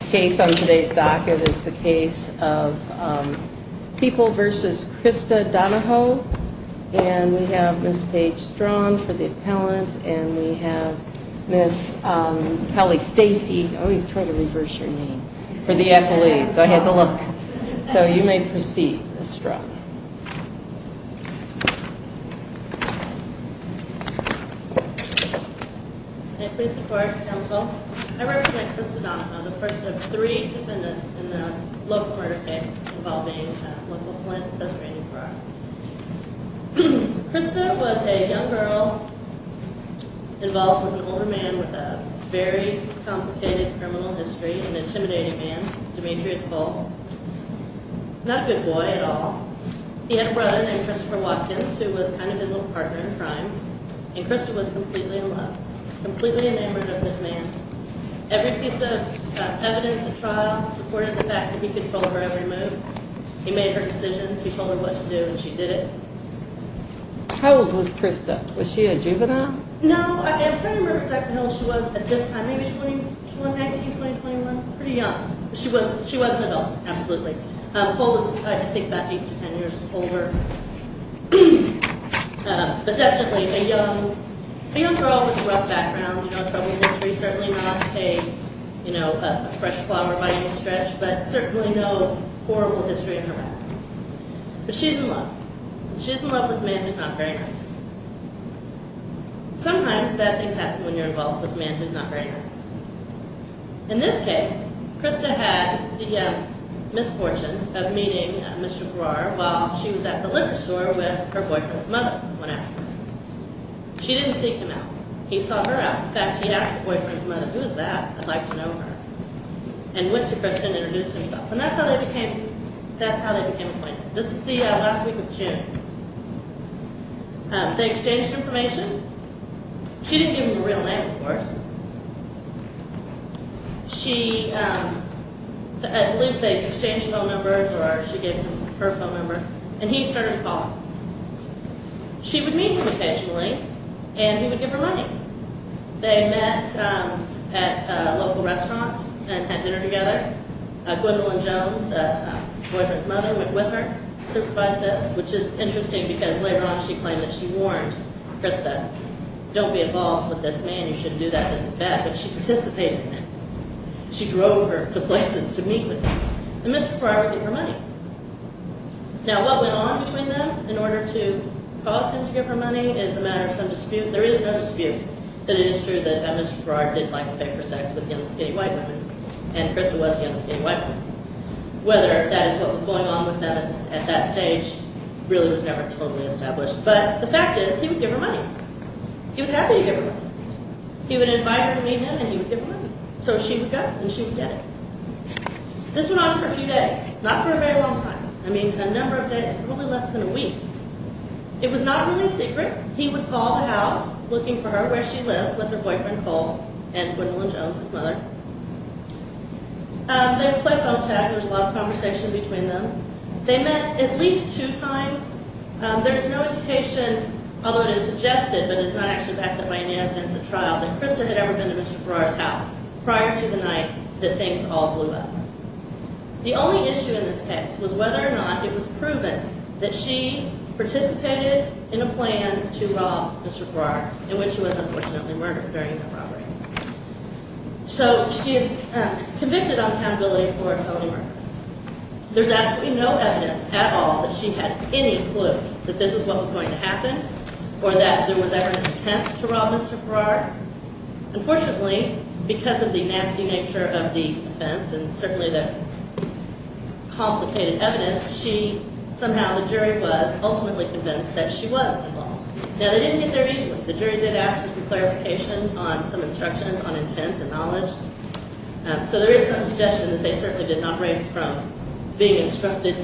The case on today's docket is the case of People v. Krista Donoho, and we have Ms. Paige Straughan for the appellant, and we have Ms. Kelly Stacey, oh he's trying to reverse your name, for the appellee, so I had to look. So you may proceed Ms. Straughan. Okay, please support counsel. I represent Krista Donoho, the first of three defendants in the local murder case involving local Flint, best rated for R. Krista was a young girl involved with an older man with a very complicated criminal history, an intimidating man, Demetrius Cole, not a good boy at all. He had a brother named Christopher Watkins who was kind of his little partner in crime, and Krista was completely in love, completely enamored of this man. Every piece of evidence of trial supported the fact that he controlled her every move. He made her decisions, he told her what to do, and she did it. How old was Krista? Was she a juvenile? No, I'm trying to remember exactly how old she was at this time, maybe 20, 19, 20, 21, pretty young. She was an adult, absolutely. Cole was I think about 8 to 10 years older. But definitely a young girl with a rough background, you know, a troubled history, certainly not a, you know, a fresh flower by any stretch, but certainly no horrible history in her life. But she's in love. She's in love with a man who's not very nice. Sometimes bad things happen when you're involved with a man who's not very nice. In this case, Krista had the misfortune of meeting Mr. Giroir while she was at the liquor store with her boyfriend's mother one afternoon. She didn't seek him out. He sought her out. In fact, he asked the boyfriend's mother, who is that? I'd like to know her. And went to Krista and introduced himself. And that's how they became, that's how they became acquainted. This is the last week of June. They exchanged information. She didn't give him her real name, of course. She, at least they exchanged phone numbers, or she gave him her phone number, and he started to call her. She would meet him occasionally, and he would give her money. They met at a local restaurant and had dinner together. Gwendolyn Jones, the boyfriend's mother, went with her, supervised this, which is interesting because later on she claimed that she warned Krista, don't be involved with this man. You shouldn't do that. This is bad. But she participated in it. She drove her to places to meet with him, and Mr. Giroir would give her money. Now, what went on between them in order to cause him to give her money is a matter of some dispute. There is no dispute that it is true that Mr. Giroir didn't like to pay for sex with young, skinny white women, and Krista was the young, skinny white woman. Whether that is what was going on with them at that stage really was never totally established, but the fact is he would give her money. He was happy to give her money. He would invite her to meet him, and he would give her money. So she would go, and she would get it. This went on for a few days, not for a very long time. I mean, a number of days, probably less than a week. It was not really secret. He would call the house looking for her where she lived with her boyfriend Cole and Gwendolyn Jones, his mother. They would play phone tag. There was a lot of conversation between them. They met at least two times. There's no indication, although it is suggested, but it's not actually backed up by any evidence at trial, that Krista had ever been to Mr. Giroir's house prior to the night that things all blew up. The only issue in this case was whether or not it was proven that she participated in a plan to rob Mr. Giroir, in which she was unfortunately murdered during the robbery. So she is convicted on accountability for a felony murder. There's absolutely no evidence at all that she had any clue that this is what was going to happen or that there was ever an attempt to rob Mr. Giroir. Unfortunately, because of the nasty nature of the offense and certainly the complicated evidence, somehow the jury was ultimately convinced that she was involved. Now, they didn't get their reason. The jury did ask for some clarification on some instructions on intent and knowledge. So there is some suggestion that they certainly did not raise from being instructed,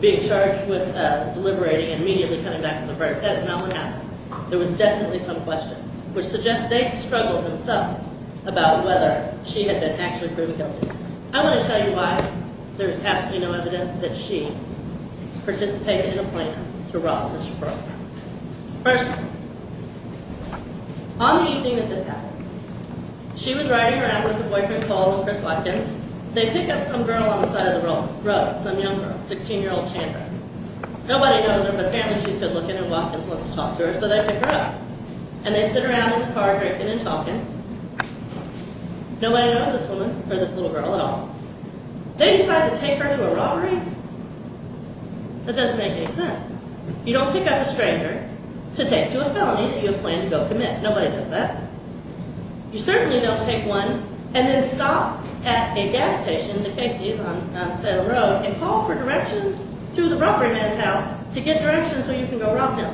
being charged with deliberating and immediately coming back to the verdict. That is not what happened. There was definitely some question, which suggests they struggled themselves about whether she had been actually proven guilty. I want to tell you why there's absolutely no evidence that she participated in a plan to rob Mr. Giroir. First, on the evening that this happened, she was riding around with her boyfriend Cole and Chris Watkins. They pick up some girl on the side of the road, some young girl, 16-year-old Chandra. Nobody knows her, but apparently she's good looking and Watkins wants to talk to her, so they pick her up. And they sit around in the car drinking and talking. Nobody knows this woman or this little girl at all. They decide to take her to a robbery. That doesn't make any sense. You don't pick up a stranger to take to a felony that you have planned to go commit. Nobody does that. You certainly don't take one and then stop at a gas station, the Casey's on Salem Road, and call for directions to the robbery man's house to get directions so you can go rob him.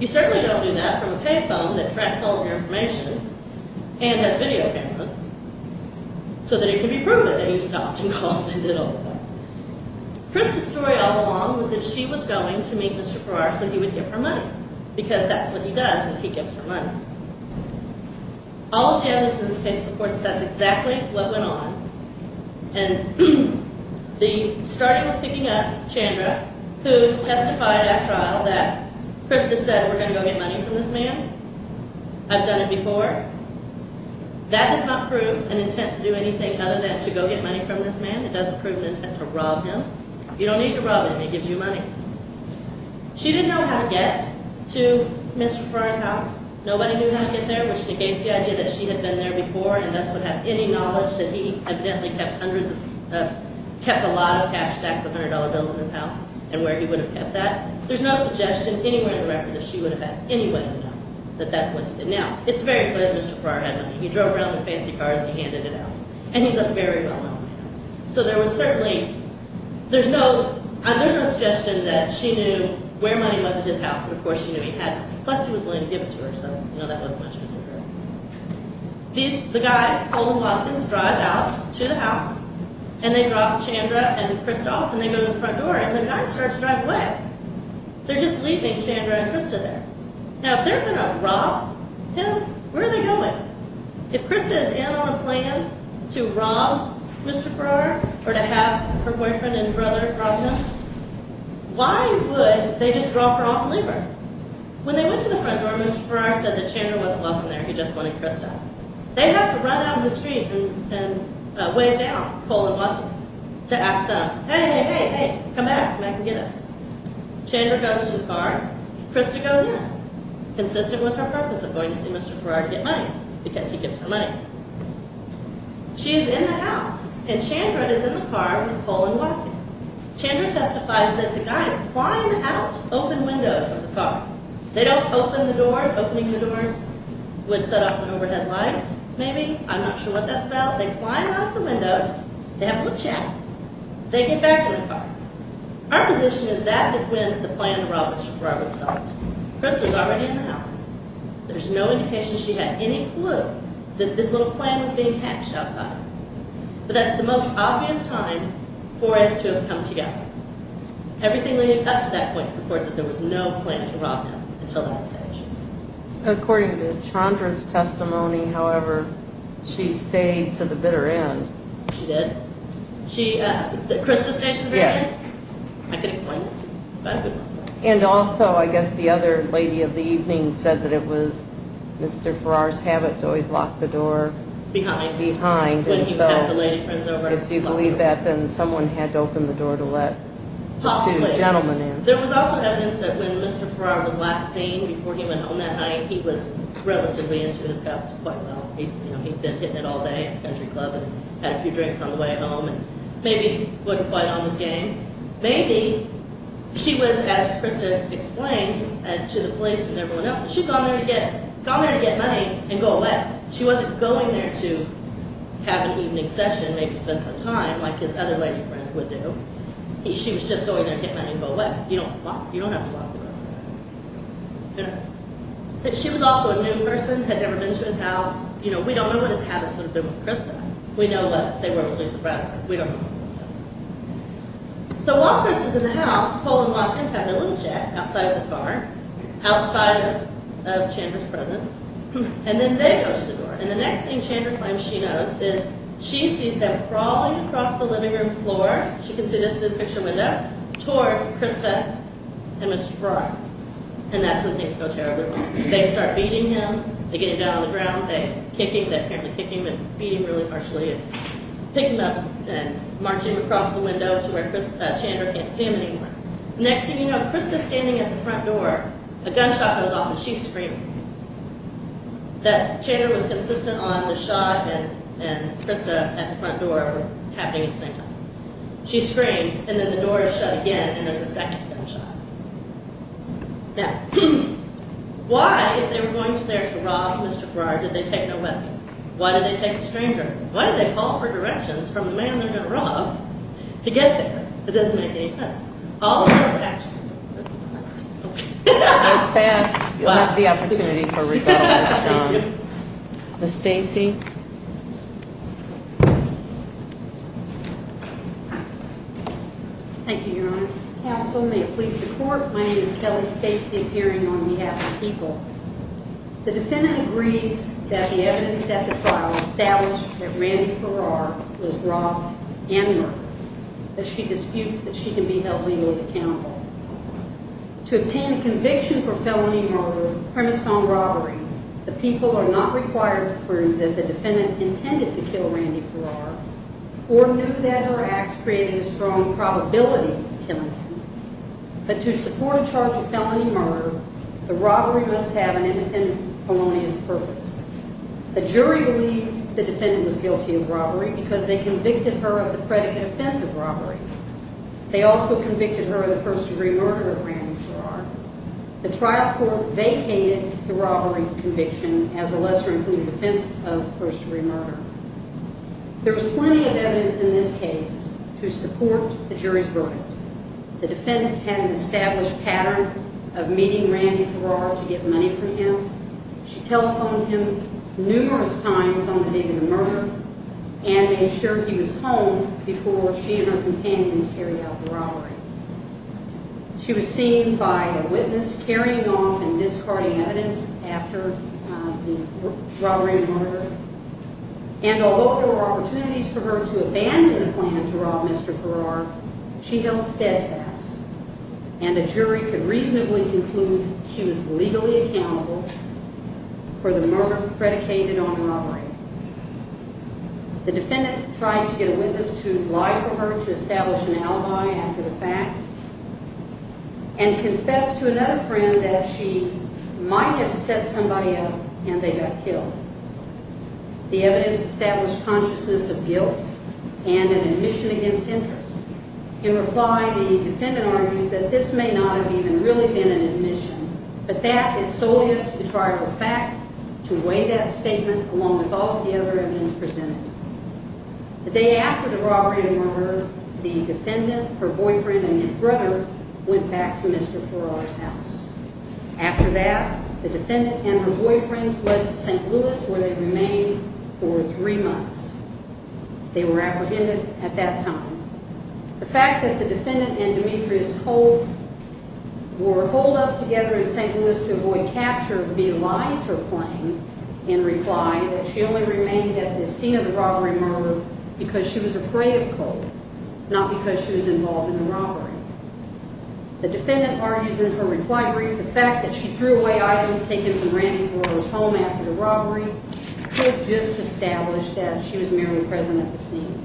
You certainly don't do that from a pay phone that tracks all of your information and has video cameras so that it can be proven that you stopped and called and did all of that. Chris's story all along was that she was going to meet Mr. Giroir so he would give her money because that's what he does is he gives her money. All of the evidence in this case supports that's exactly what went on. And the starting of picking up, Chandra, who testified at trial that Chris just said we're going to go get money from this man. I've done it before. That does not prove an intent to do anything other than to go get money from this man. It doesn't prove an intent to rob him. You don't need to rob him. He gives you money. She didn't know how to get to Mr. Giroir's house. Nobody knew how to get there, which negates the idea that she had been there before and thus would have any knowledge that he evidently kept a lot of cash stacks of $100 bills in his house and where he would have kept that. There's no suggestion anywhere in the record that she would have had any way to know that that's what he did. Now, it's very clear that Mr. Giroir had money. He drove around in fancy cars and he handed it out. And he's a very well-known man. So there was certainly – there's no suggestion that she knew where money was in his house, but of course she knew he had it. Plus, he was willing to give it to her, so, you know, that wasn't much of a secret. The guys, Colton Hopkins, drive out to the house and they drop Chandra and Chris off and they go to the front door and the guys start to drive away. They're just leaving Chandra and Krista there. Now, if they're going to rob him, where are they going? If Krista is in on a plan to rob Mr. Giroir or to have her boyfriend and brother rob him, why would they just rob her off and leave her? When they went to the front door, Mr. Giroir said that Chandra wasn't welcome there. He just wanted Krista. They have to run down the street and wave to Al, Colton Hopkins, to ask them, hey, hey, hey, come back, come back and get us. Chandra goes to the car, Krista goes in, consistent with her purpose of going to see Mr. Giroir to get money, because he gives her money. She's in the house and Chandra is in the car with Colton Hopkins. Chandra testifies that the guys climb out, open windows from the car. They don't open the doors, opening the doors would set off an overhead light, maybe, I'm not sure what that's called. They climb out the windows, they have a little chat, they get back in the car. Our position is that is when the plan to rob Mr. Giroir was developed. Krista's already in the house. There's no indication she had any clue that this little plan was being hatched outside. But that's the most obvious time for it to have come together. Everything leading up to that point supports that there was no plan to rob him until that stage. According to Chandra's testimony, however, she stayed to the bitter end. She did? Krista stayed to the bitter end? Yes. I could explain. And also, I guess the other lady of the evening said that it was Mr. Farrar's habit to always lock the door behind. When he would have the lady friends over. If you believe that, then someone had to open the door to let two gentlemen in. Possibly. There was also evidence that when Mr. Farrar was last seen, before he went home that night, he was relatively into his guts quite well. He'd been hitting it all day at the country club and had a few drinks on the way home and maybe wasn't quite on his game. Maybe she was, as Krista explained to the police and everyone else, she'd gone there to get money and go away. She wasn't going there to have an evening session and maybe spend some time like his other lady friend would do. She was just going there to get money and go away. You don't have to lock the door behind. Who knows? She was also a new person, had never been to his house. You know, we don't know what his habits would have been with Krista. We know that they were with Lisa Bradford. We don't know. So while Krista's in the house, Paul and John have a little chat outside of the car, outside of Chandra's presence. And then they go to the door. And the next thing Chandra claims she knows is she sees them crawling across the living room floor. She can see this through the picture window, toward Krista and Mr. Fry. And that's when things go terribly wrong. They start beating him. They get him down on the ground. They kick him. They apparently kick him and beat him really harshly and pick him up and march him across the window to where Chandra can't see him anymore. Next thing you know, Krista's standing at the front door. A gunshot goes off and she's screaming. That Chandra was consistent on the shot and Krista at the front door happening at the same time. She screams, and then the door is shut again, and there's a second gunshot. Now, why, if they were going there to rob Mr. Fry, did they take no weapon? Why did they take a stranger? Why did they call for directions from the man they were going to rob to get there? It doesn't make any sense. All of us, actually. That was fast. You left the opportunity for rebuttal. Ms. Stacy. Thank you, Your Honor. Counsel, may it please the Court, my name is Kelly Stacy, appearing on behalf of PEOPLE. The defendant agrees that the evidence at the trial established that Randy Farrar was robbed and murdered, but she disputes that she can be held legally accountable. To obtain a conviction for felony murder premised on robbery, the PEOPLE are not required to prove that the defendant intended to kill Randy Farrar or knew that her acts created a strong probability of killing him, but to support a charge of felony murder, the robbery must have an independent felonious purpose. The jury believed the defendant was guilty of robbery because they convicted her of the predicate offense of robbery. They also convicted her of the first-degree murder of Randy Farrar. The trial court vacated the robbery conviction as a lesser-included offense of first-degree murder. There is plenty of evidence in this case to support the jury's verdict. The defendant had an established pattern of meeting Randy Farrar to get money from him. She telephoned him numerous times on the day of the murder and made sure he was home before she and her companions carried out the robbery. She was seen by a witness carrying off and discarding evidence after the robbery and murder, and although there were opportunities for her to abandon the plan to rob Mr. Farrar, she held steadfast, and the jury could reasonably conclude she was legally accountable for the murder predicated on robbery. The defendant tried to get a witness to lie for her to establish an alibi after the fact and confess to another friend that she might have set somebody up and they got killed. The evidence established consciousness of guilt and an admission against interest. In reply, the defendant argues that this may not have even really been an admission, but that is solely a trifle fact to weigh that statement along with all the other evidence presented. The day after the robbery and murder, the defendant, her boyfriend, and his brother went back to Mr. Farrar's house. After that, the defendant and her boyfriend went to St. Louis where they remained for three months. They were apprehended at that time. The fact that the defendant and Demetrius Cole were holed up together in St. Louis to avoid capture belies her claim in reply that she only remained at the scene of the robbery and murder because she was afraid of Cole, not because she was involved in the robbery. The defendant argues in her reply brief the fact that she threw away items taken from Randy Cole's home after the robbery could have just established that she was merely present at the scene.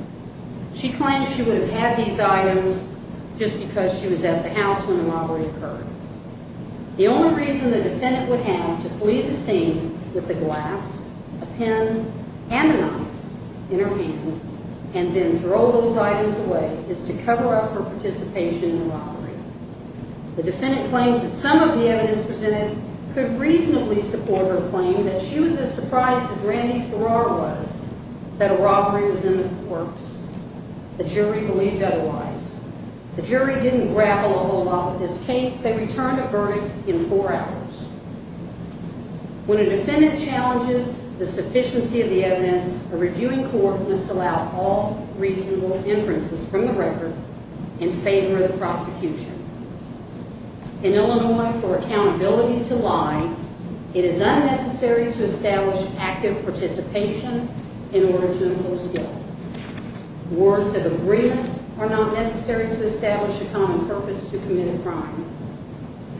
She claimed she would have had these items just because she was at the house when the robbery occurred. The only reason the defendant would have to flee the scene with a glass, a pen, and a knife in her hand and then throw those items away is to cover up her participation in the robbery. The defendant claims that some of the evidence presented could reasonably support her claim that she was as surprised as Randy Farrar was that a robbery was in the courts. The jury believed otherwise. The jury didn't grapple a whole lot with this case. They returned a verdict in four hours. When a defendant challenges the sufficiency of the evidence, a reviewing court must allow all reasonable inferences from the record in favor of the prosecution. In Illinois, for accountability to lie, it is unnecessary to establish active participation in order to impose guilt. Words of agreement are not necessary to establish a common purpose to commit a crime.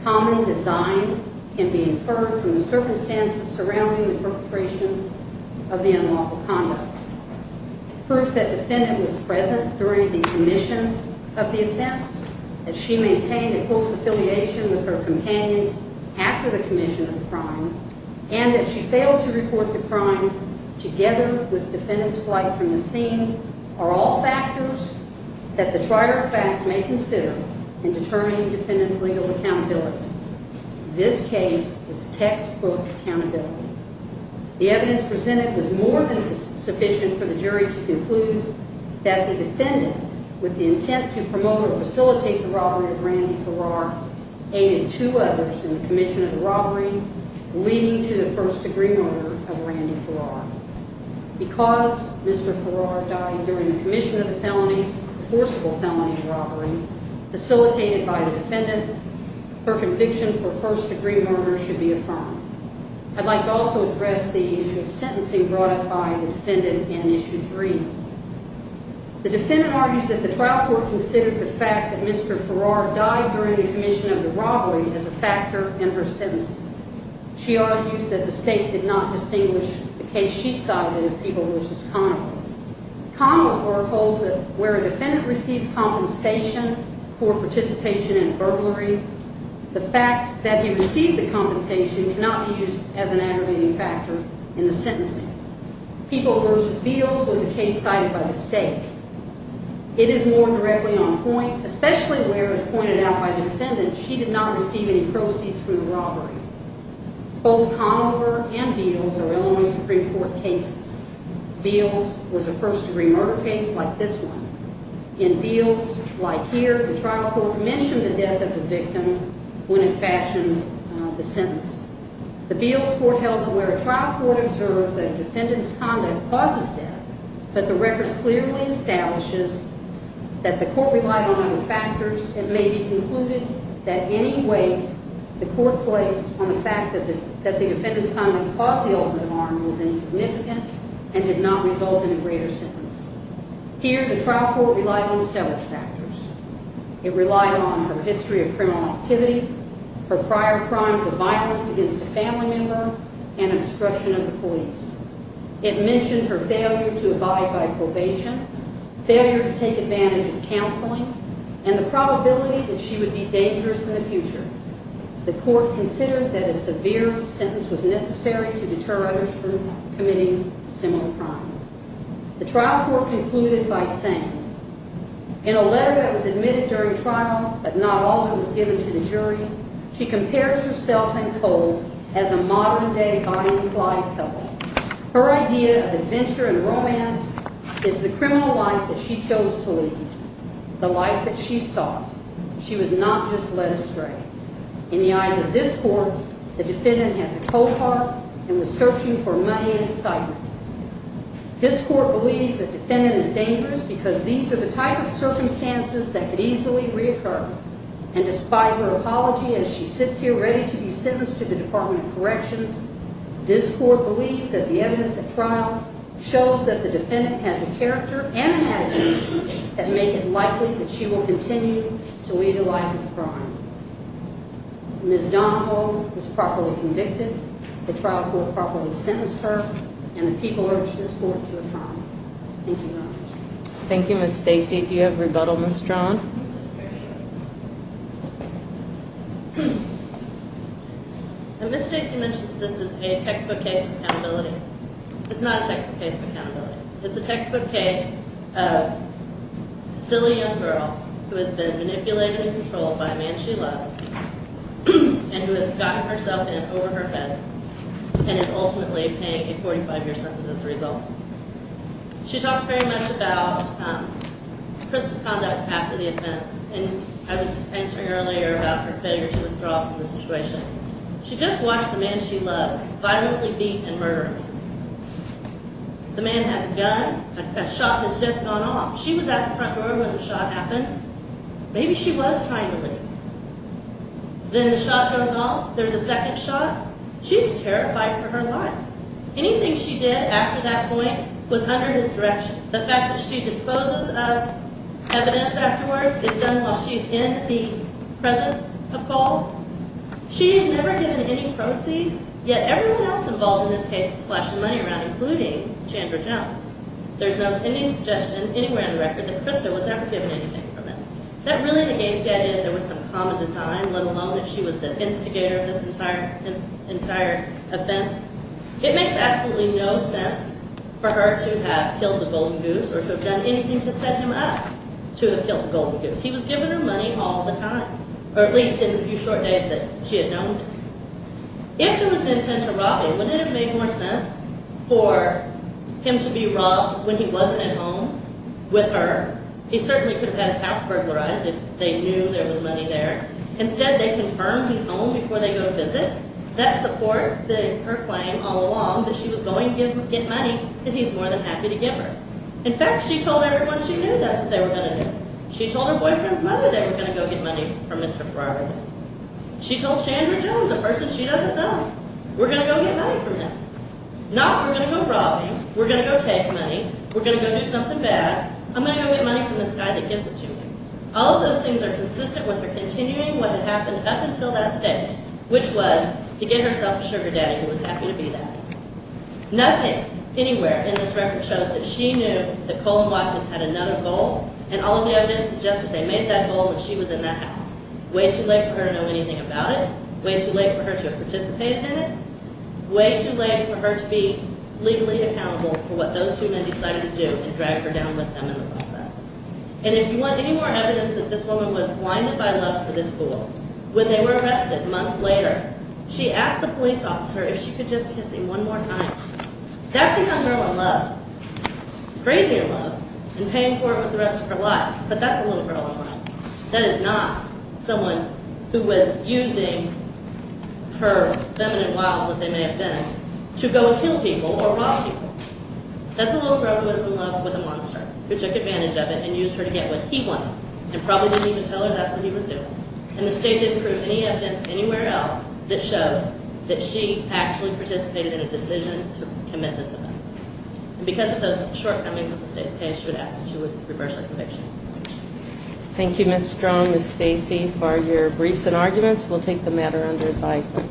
Common design can be inferred from the circumstances surrounding the perpetration of the unlawful conduct. Proof that the defendant was present during the commission of the offense, that she maintained a close affiliation with her companions after the commission of the crime, and that she failed to report the crime together with the defendant's flight from the scene are all factors that the trier of fact may consider in determining the defendant's legal accountability. This case is textbook accountability. The evidence presented was more than sufficient for the jury to conclude that the defendant, with the intent to promote or facilitate the robbery of Randy Farrar, aided two others in the commission of the robbery, leading to the first degree murder of Randy Farrar. Because Mr. Farrar died during the commission of the felony, the forcible felony of robbery, facilitated by the defendant, her conviction for first degree murder should be affirmed. I'd like to also address the issue of sentencing brought up by the defendant in Issue 3. The defendant argues that the trial court considered the fact that Mr. Farrar died during the commission of the robbery as a factor in her sentencing. She argues that the state did not distinguish the case she cited in Peeble v. Conover. Conover holds that where a defendant receives compensation for participation in burglary, the fact that he received the compensation cannot be used as an aggravating factor in the sentencing. Peeble v. Beals was a case cited by the state. It is more directly on point, especially where, as pointed out by the defendant, she did not receive any proceeds from the robbery. Both Conover and Beals are Illinois Supreme Court cases. Beals was a first degree murder case like this one. In Beals, like here, the trial court mentioned the death of the victim when it fashioned the sentence. The Beals court held that where a trial court observed that a defendant's conduct causes death, but the record clearly establishes that the court relied on other factors and may be concluded that any weight the court placed on the fact that the defendant's conduct caused the ultimate harm was insignificant and did not result in a greater sentence. Here, the trial court relied on several factors. It relied on her history of criminal activity, her prior crimes of violence against a family member, and obstruction of the police. It mentioned her failure to abide by probation, failure to take advantage of counseling, and the probability that she would be dangerous in the future. The court considered that a severe sentence was necessary to deter others from committing similar crime. The trial court concluded by saying, in a letter that was admitted during trial but not all that was given to the jury, she compares herself in cold as a modern-day buying fly pillow. Her idea of adventure and romance is the criminal life that she chose to lead, the life that she sought. She was not just led astray. In the eyes of this court, the defendant has a cold heart and was searching for money and excitement. This court believes that the defendant is dangerous because these are the type of circumstances that could easily reoccur. And despite her apology, as she sits here ready to be sentenced to the Department of Corrections, this court believes that the evidence at trial shows that the defendant has a character and an attitude that make it likely that she will continue to lead a life of crime. Ms. Donahoe was properly convicted, the trial court properly sentenced her, and the people urge this court to affirm. Thank you very much. Thank you, Ms. Stacey. Do you have rebuttal, Ms. Strachan? Ms. Stacey mentioned that this is a textbook case of accountability. It's not a textbook case of accountability. It's a textbook case of a silly young girl who has been manipulated and controlled by a man she loves and who has gotten herself in over her head and is ultimately paying a 45-year sentence as a result. She talks very much about Krista's conduct after the offense, and I was answering earlier about her failure to withdraw from the situation. She just watched the man she loves violently beat and murder her. The man has a gun. A shot has just gone off. She was at the front door when the shot happened. Maybe she was trying to leave. Then the shot goes off. There's a second shot. She's terrified for her life. Anything she did after that point was under his direction. The fact that she disposes of evidence afterwards is done while she's in the presence of gold. She's never given any proceeds, yet everyone else involved in this case is splashing money around, including Chandra Jones. There's not any suggestion anywhere on the record that Krista was ever given anything from this. That really negates the idea that there was some common design, let alone that she was the instigator of this entire offense. It makes absolutely no sense for her to have killed the Golden Goose or to have done anything to set him up to have killed the Golden Goose. He was giving her money all the time, or at least in the few short days that she had known him. If it was an intent to rob him, wouldn't it have made more sense for him to be robbed when he wasn't at home with her? He certainly could have had his house burglarized if they knew there was money there. Instead, they confirmed he's home before they go to visit. That supports her claim all along that she was going to get money that he's more than happy to give her. In fact, she told everyone she knew that's what they were going to do. She told her boyfriend's mother they were going to go get money from Mr. Broderick. She told Chandra Jones, a person she doesn't know, we're going to go get money from him. Not we're going to go rob him, we're going to go take money, we're going to go do something bad. I'm going to go get money from this guy that gives it to me. All of those things are consistent with her continuing what had happened up until that stage, which was to get herself a sugar daddy who was happy to be there. Nothing anywhere in this record shows that she knew that Cole and Watkins had another goal, and all of the evidence suggests that they made that goal when she was in that house. Way too late for her to know anything about it. Way too late for her to have participated in it. Way too late for her to be legally accountable for what those two men decided to do and drag her down with them in the process. And if you want any more evidence that this woman was blinded by love for this fool, when they were arrested months later, she asked the police officer if she could just kiss him one more time. That's a young girl in love. Crazy in love. And paying for it with the rest of her life. But that's a little girl in love. That is not someone who was using her feminine wilds, what they may have been, to go and kill people or rob people. That's a little girl who was in love with a monster who took advantage of it and used her to get what he wanted and probably didn't even tell her that's what he was doing. And the state didn't prove any evidence anywhere else that showed that she actually participated in a decision to commit this offense. And because of those shortcomings of the state's case, she was asked to reverse her conviction. Thank you, Ms. Strong, Ms. Stacy, for your briefs and arguments. We'll take the matter under advisement.